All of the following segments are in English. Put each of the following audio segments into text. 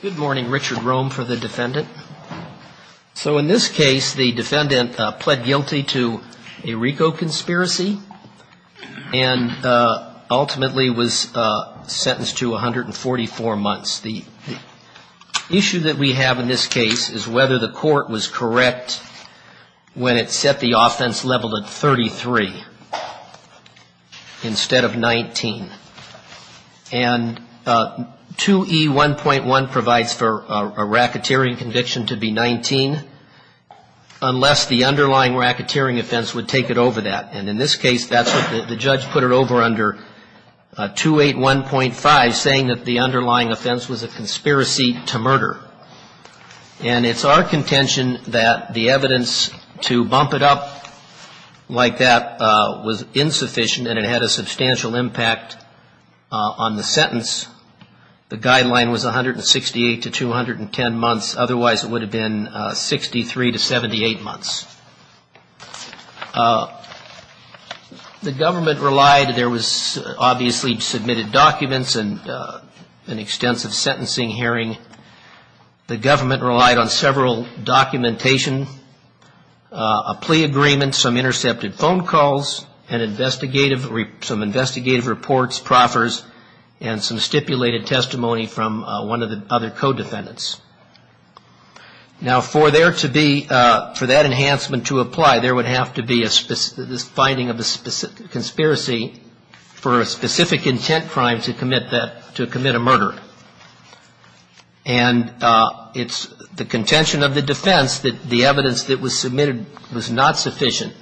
Good morning. Richard Rome for the defendant. So in this case, the defendant pled guilty to a RICO conspiracy and ultimately was sentenced to 144 months. The issue that we have in this case is whether the court was correct when it set the offense level at 33 instead of 19. And two 181.1 provides for a racketeering conviction to be 19 unless the underlying racketeering offense would take it over that. And in this case, that's what the judge put it over under 281.5, saying that the underlying offense was a conspiracy to murder. And it's our contention that the evidence to bump it up like that was insufficient and it had a substantial impact on the sentence. The guideline was 168 to 210 months. Otherwise, it would have been 63 to 78 months. The government relied, there was obviously submitted documents and an extensive sentencing hearing. The government relied on several documentation, a plea agreement, some intercepted phone calls, and investigative, some investigative reports, proffers, and some stipulations. Now, for there to be, for that enhancement to apply, there would have to be a finding of a conspiracy for a specific intent crime to commit that, to commit a murder. And it's the contention of the defense that the evidence that was submitted was not sufficient.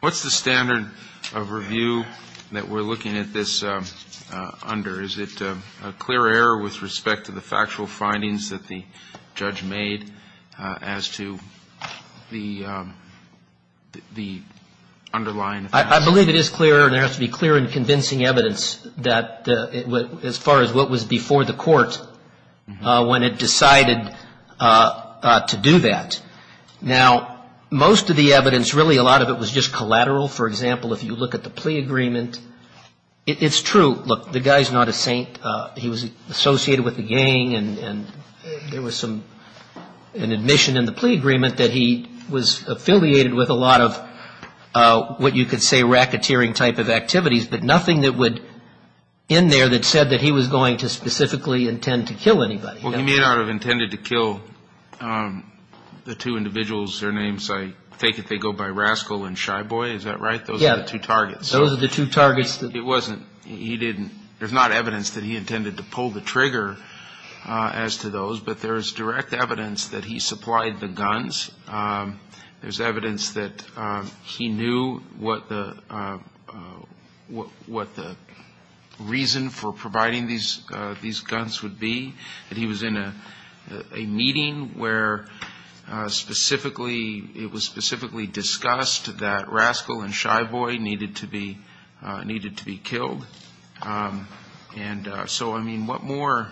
What's the standard of review that we're looking at this under? Is it a clear error with respect to the factual findings that the judge made as to the underlying offense? I believe it is clear, and there has to be clear and convincing evidence as far as what was before the court when it decided to do that. Now, most of the evidence, really a lot of it was just collateral. For example, if you look at the plea agreement, it's true, look, the guy's not a saint. He was associated with the gang, and there was some, an admission in the plea agreement that he was affiliated with a lot of what you could say racketeering type of activities, but nothing that would, in there that said that he was going to specifically intend to kill anybody. Well, he may not have intended to kill the two individuals, their names, I take it they go by Rascal and Shy Boy, is that right? Those are the two targets. Yeah, those are the two targets. It wasn't, he didn't, there's not evidence that he intended to pull the trigger as to those, but there is direct evidence that he supplied the guns. There's evidence that he knew what the reason for providing these guns would be, that he was in a meeting where specifically, it was specifically discussed that Rascal and Shy Boy needed to be killed. And so, I mean, what more,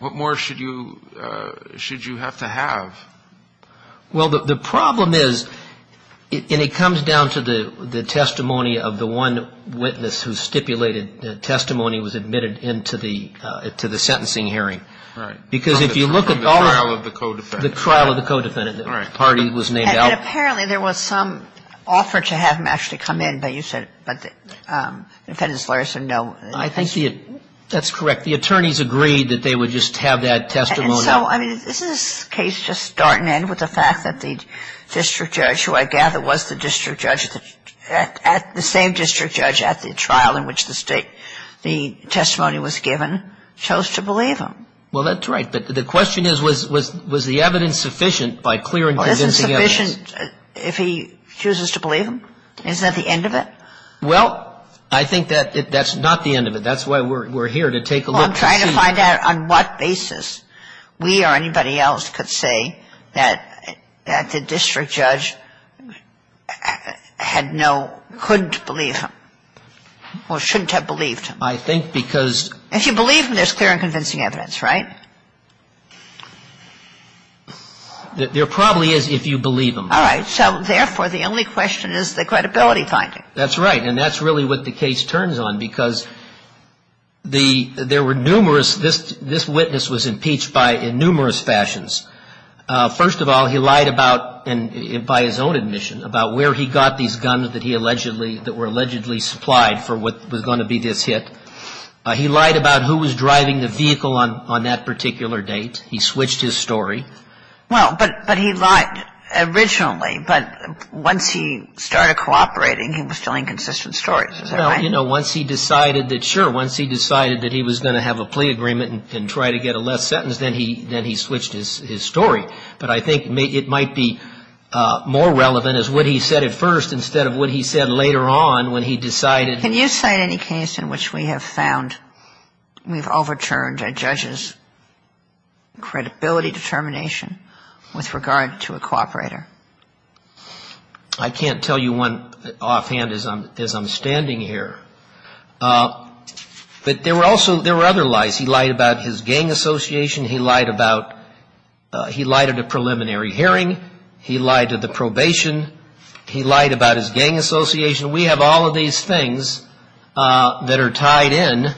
what more should you have to have? Well, the problem is, and it comes down to the testimony of the one witness who stipulated that testimony was admitted into the sentencing hearing. Right. Because if you look at all of the. The trial of the co-defendant. The trial of the co-defendant. The party was named out. And apparently there was some offer to have him actually come in, but you said, but the defendant's lawyers said no. I think that's correct. The attorneys agreed that they would just have that testimony. And so, I mean, isn't this case just starting in with the fact that the district judge, who I gather was the district judge at the same district judge at the trial in which the testimony was given, chose to believe him? Well, that's right. But the question is, was the evidence sufficient by clear and convincing evidence? Was it sufficient if he chooses to believe him? Isn't that the end of it? Well, I think that that's not the end of it. That's why we're here, to take a look and see. Well, I'm trying to find out on what basis we or anybody else could say that the district judge had no, couldn't believe him, or shouldn't have believed him. I think because. If you believe him, there's clear and convincing evidence, right? There probably is if you believe him. All right. So, therefore, the only question is the credibility finding. That's right. And that's really what the case turns on, because there were numerous, this witness was impeached by in numerous fashions. First of all, he lied about, by his own admission, about where he got these guns that he allegedly, that were allegedly supplied for what was going to be this hit. He lied about who was driving the vehicle on that particular date. He switched his story. Well, but he lied originally. But once he started cooperating, he was telling consistent stories. Is that right? Well, you know, once he decided that, sure, once he decided that he was going to have a plea agreement and try to get a less sentence, then he switched his story. But I think it might be more relevant as what he said at first instead of what he said later on when he decided. Can you cite any case in which we have found, we've overturned a judge's credibility determination with regard to a cooperator? I can't tell you one offhand as I'm standing here. But there were also, there were other lies. He lied about his gang association. He lied about, he lied at a preliminary hearing. He lied at the probation. He lied about his gang association. We have all of these things that are tied in.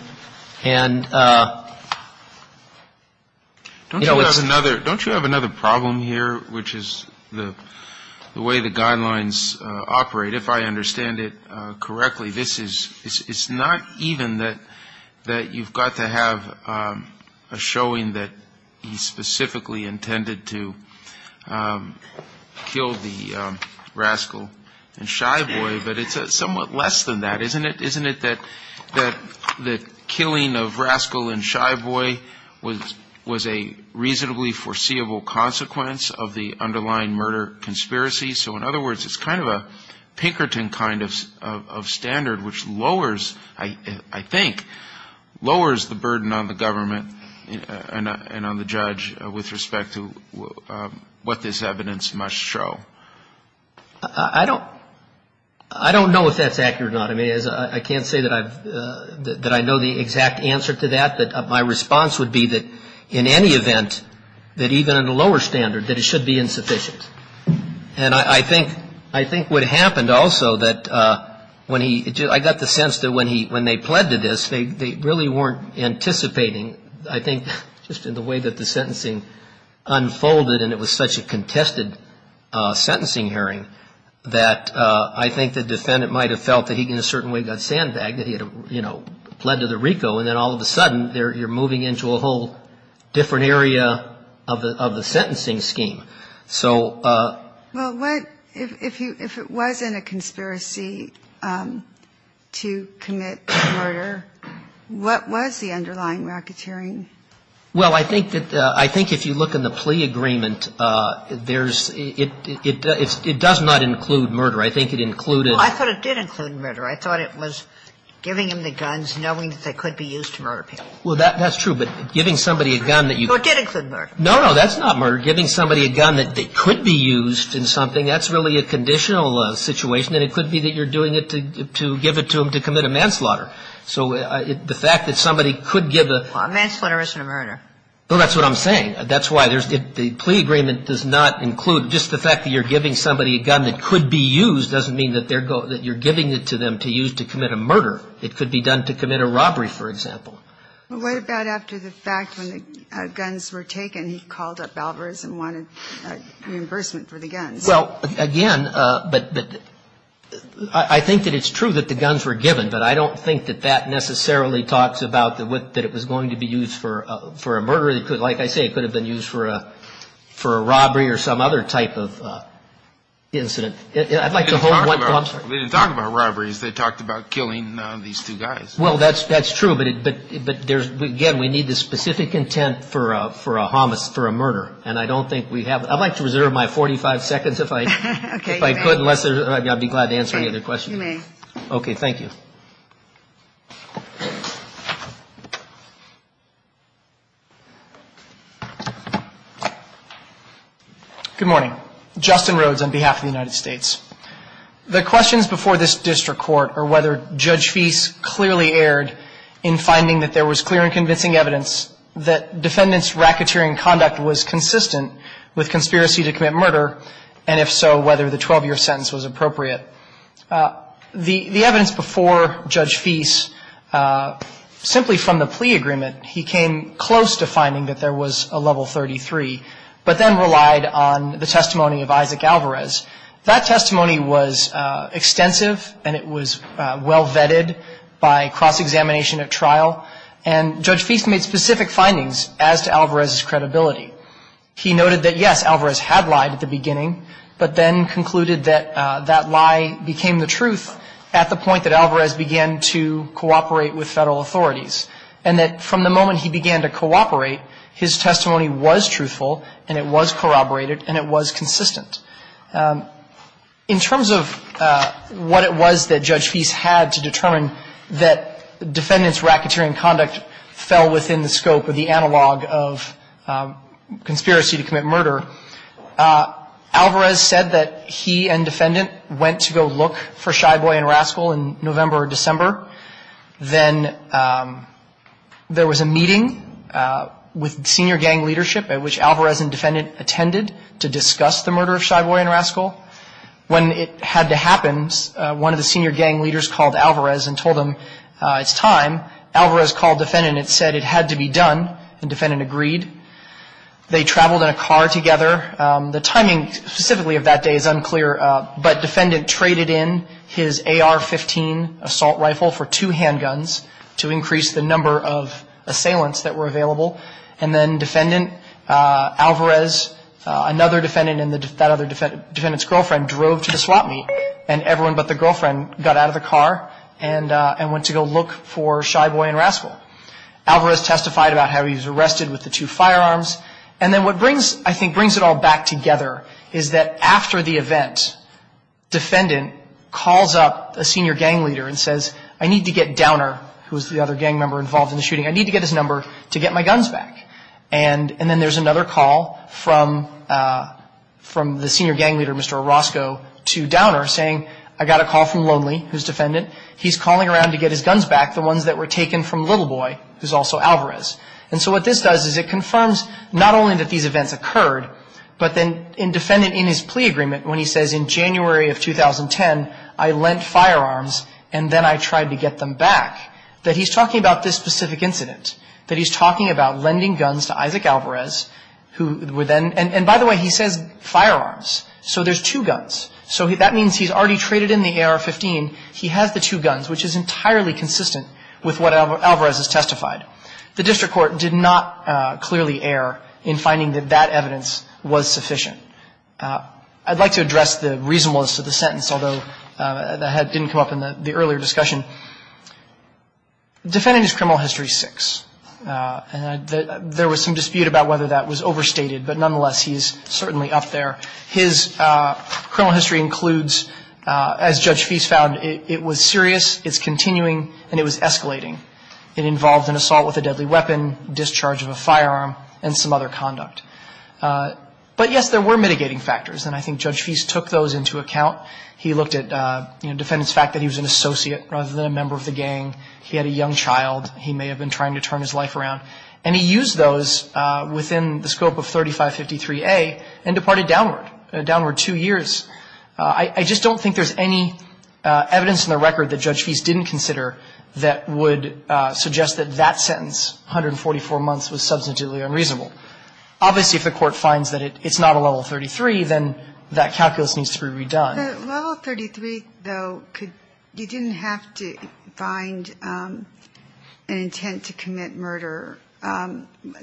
And, you know, it's. Don't you have another problem here, which is the way the guidelines operate, if I understand it correctly. It's not even that you've got to have a showing that he specifically intended to kill the rascal and shy boy, but it's somewhat less than that, isn't it? Isn't it that the killing of rascal and shy boy was a reasonably foreseeable consequence of the underlying murder conspiracy? So in other words, it's kind of a Pinkerton kind of standard which lowers, I think, lowers the burden on the government and on the judge with respect to what this evidence must show. I don't know if that's accurate or not. I mean, I can't say that I know the exact answer to that. But my response would be that in any event, that even at a lower standard, that it should be insufficient. And I think I think what happened also that when he I got the sense that when he when they pled to this, they really weren't anticipating. I think just in the way that the sentencing unfolded and it was such a contested sentencing hearing that I think the defendant might have felt that he in a certain way got sandbagged that he had, you know, pled to the Rico. And then all of a sudden you're moving into a whole different area of the sentencing scheme. So. Well, what if you if it wasn't a conspiracy to commit murder? What was the underlying racketeering? Well, I think that I think if you look in the plea agreement, there's it. It does not include murder. I think it included. I thought it did include murder. I thought it was giving him the guns, knowing that they could be used to murder people. Well, that's true. But giving somebody a gun that you did include murder. No, no, that's not murder. Giving somebody a gun that they could be used in something, that's really a conditional situation. And it could be that you're doing it to give it to him to commit a manslaughter. So the fact that somebody could give a... Well, a manslaughter isn't a murder. Well, that's what I'm saying. That's why. The plea agreement does not include... Just the fact that you're giving somebody a gun that could be used doesn't mean that you're giving it to them to use to commit a murder. It could be done to commit a robbery, for example. Well, what about after the fact, when the guns were taken, he called up Balvers and wanted reimbursement for the guns? Well, again, but I think that it's true that the guns were given. But I don't think that that necessarily talks about that it was going to be used for a murder. Like I say, it could have been used for a robbery or some other type of incident. I'd like to hold... They didn't talk about robberies. They talked about killing these two guys. Well, that's true. But, again, we need the specific intent for a homicide, for a murder. And I don't think we have... I'd like to reserve my 45 seconds if I could. I'd be glad to answer any other questions. Okay, you may. Okay, thank you. Good morning. Justin Rhodes on behalf of the United States. The questions before this district court are whether Judge Fease clearly erred in finding that there was clear and convincing evidence that defendants' racketeering conduct was consistent with conspiracy to commit murder, and if so, whether the 12-year sentence was appropriate. The evidence before Judge Fease, simply from the plea agreement, he came close to finding that there was a Level 33, but then relied on the testimony of Isaac Alvarez. That testimony was extensive, and it was well vetted by cross-examination at trial, and Judge Fease made specific findings as to Alvarez's credibility. He noted that, yes, Alvarez had lied at the beginning, but then concluded that that lie became the truth at the point that Alvarez began to cooperate with federal authorities, and that from the moment he began to cooperate, his testimony was truthful, and it was corroborated, and it was consistent. In terms of what it was that Judge Fease had to determine that defendants' racketeering conduct fell within the scope of the analog of conspiracy to commit murder, Alvarez said that he and defendant went to go look for Shy Boy and Rascal in November or December. Then there was a meeting with senior gang leadership, at which Alvarez and defendant attended to discuss the murder of Shy Boy and Rascal. When it had to happen, one of the senior gang leaders called Alvarez and told him it's time. Alvarez called defendant and said it had to be done, and defendant agreed. They traveled in a car together. The timing specifically of that day is unclear, but defendant traded in his AR-15 assault rifle for two handguns to increase the number of assailants that were available, and then defendant, Alvarez, another defendant and that other defendant's girlfriend drove to the swap meet, and everyone but the girlfriend got out of the car and went to go look for Shy Boy and Rascal. Alvarez testified about how he was arrested with the two firearms, and then what brings, I think, brings it all back together is that after the event, defendant calls up a senior gang leader and says, I need to get Downer, who was the other gang member involved in the shooting, I need to get his number to get my guns back. And then there's another call from the senior gang leader, Mr. Orozco, to Downer saying, I got a call from Lonely, who's defendant. He's calling around to get his guns back, the ones that were taken from Little Boy, who's also Alvarez. And so what this does is it confirms not only that these events occurred, but then in defendant in his plea agreement, when he says in January of 2010, I lent firearms and then I tried to get them back, that he's talking about this specific incident, that he's talking about lending guns to Isaac Alvarez, who were then, and by the way, he says firearms. So there's two guns. So that means he's already traded in the AR-15. He has the two guns, which is entirely consistent with what Alvarez has testified. The district court did not clearly err in finding that that evidence was sufficient. I'd like to address the reasonableness of the sentence, although that didn't come up in the earlier discussion. Defendant has criminal history six. There was some dispute about whether that was overstated, but nonetheless, he's certainly up there. His criminal history includes, as Judge Feist found, it was serious, it's continuing, and it was escalating. It involved an assault with a deadly weapon, discharge of a firearm, and some other conduct. But, yes, there were mitigating factors, and I think Judge Feist took those into account. He looked at, you know, defendant's fact that he was an associate rather than a member of the gang. He had a young child. He may have been trying to turn his life around. And he used those within the scope of 3553A and departed downward, downward two years. I just don't think there's any evidence in the record that Judge Feist didn't consider that would suggest that that sentence, 144 months, was substitutely unreasonable. Obviously, if the Court finds that it's not a level 33, then that calculus needs to be redone. The level 33, though, you didn't have to find an intent to commit murder.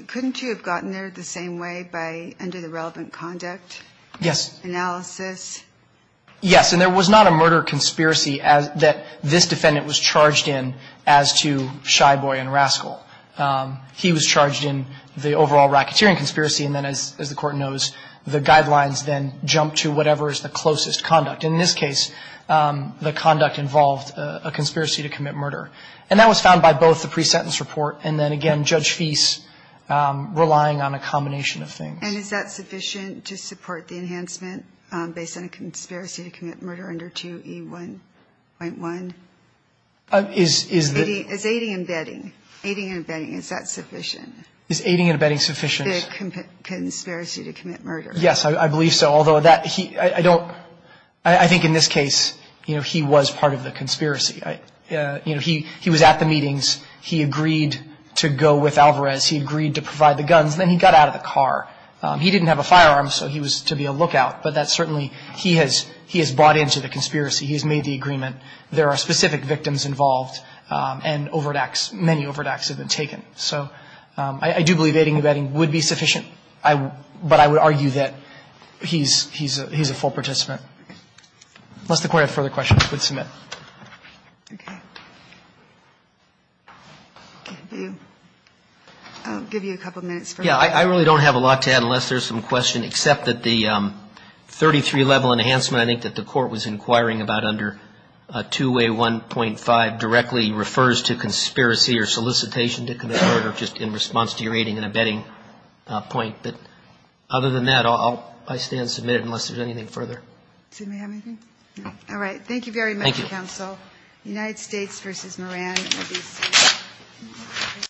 Couldn't you have gotten there the same way by under the relevant conduct? Yes. Analysis. Yes. And there was not a murder conspiracy that this defendant was charged in as to Shy Boy and Rascal. He was charged in the overall racketeering conspiracy, and then, as the Court knows, the guidelines then jump to whatever is the closest conduct. In this case, the conduct involved a conspiracy to commit murder. And that was found by both the pre-sentence report and then, again, Judge Feist relying on a combination of things. And is that sufficient to support the enhancement based on a conspiracy to commit murder under 2E1.1? Is the — Is aiding and abetting, aiding and abetting, is that sufficient? Is aiding and abetting sufficient? The conspiracy to commit murder. Yes, I believe so. Although that — I don't — I think in this case, you know, he was part of the conspiracy. You know, he was at the meetings. He agreed to go with Alvarez. He agreed to provide the guns. Then he got out of the car. He didn't have a firearm, so he was to be a lookout. But that's certainly — he has — he has bought into the conspiracy. He has made the agreement. There are specific victims involved and overreacts. Many overreacts have been taken. So I do believe aiding and abetting would be sufficient, but I would argue that he's — he's a full participant. Unless the Court had further questions, I would submit. Okay. I'll give you a couple minutes for that. Yeah. I really don't have a lot to add unless there's some question, except that the 33-level enhancement I think that the Court was inquiring about under 2A1.5 directly refers to conspiracy or solicitation to commit murder, just in response to your aiding and abetting point. But other than that, I'll stand and submit it unless there's anything further. Does anybody have anything? No. All right. Thank you very much, Counsel. Thank you. United States v. Moran, ABC. Thank you.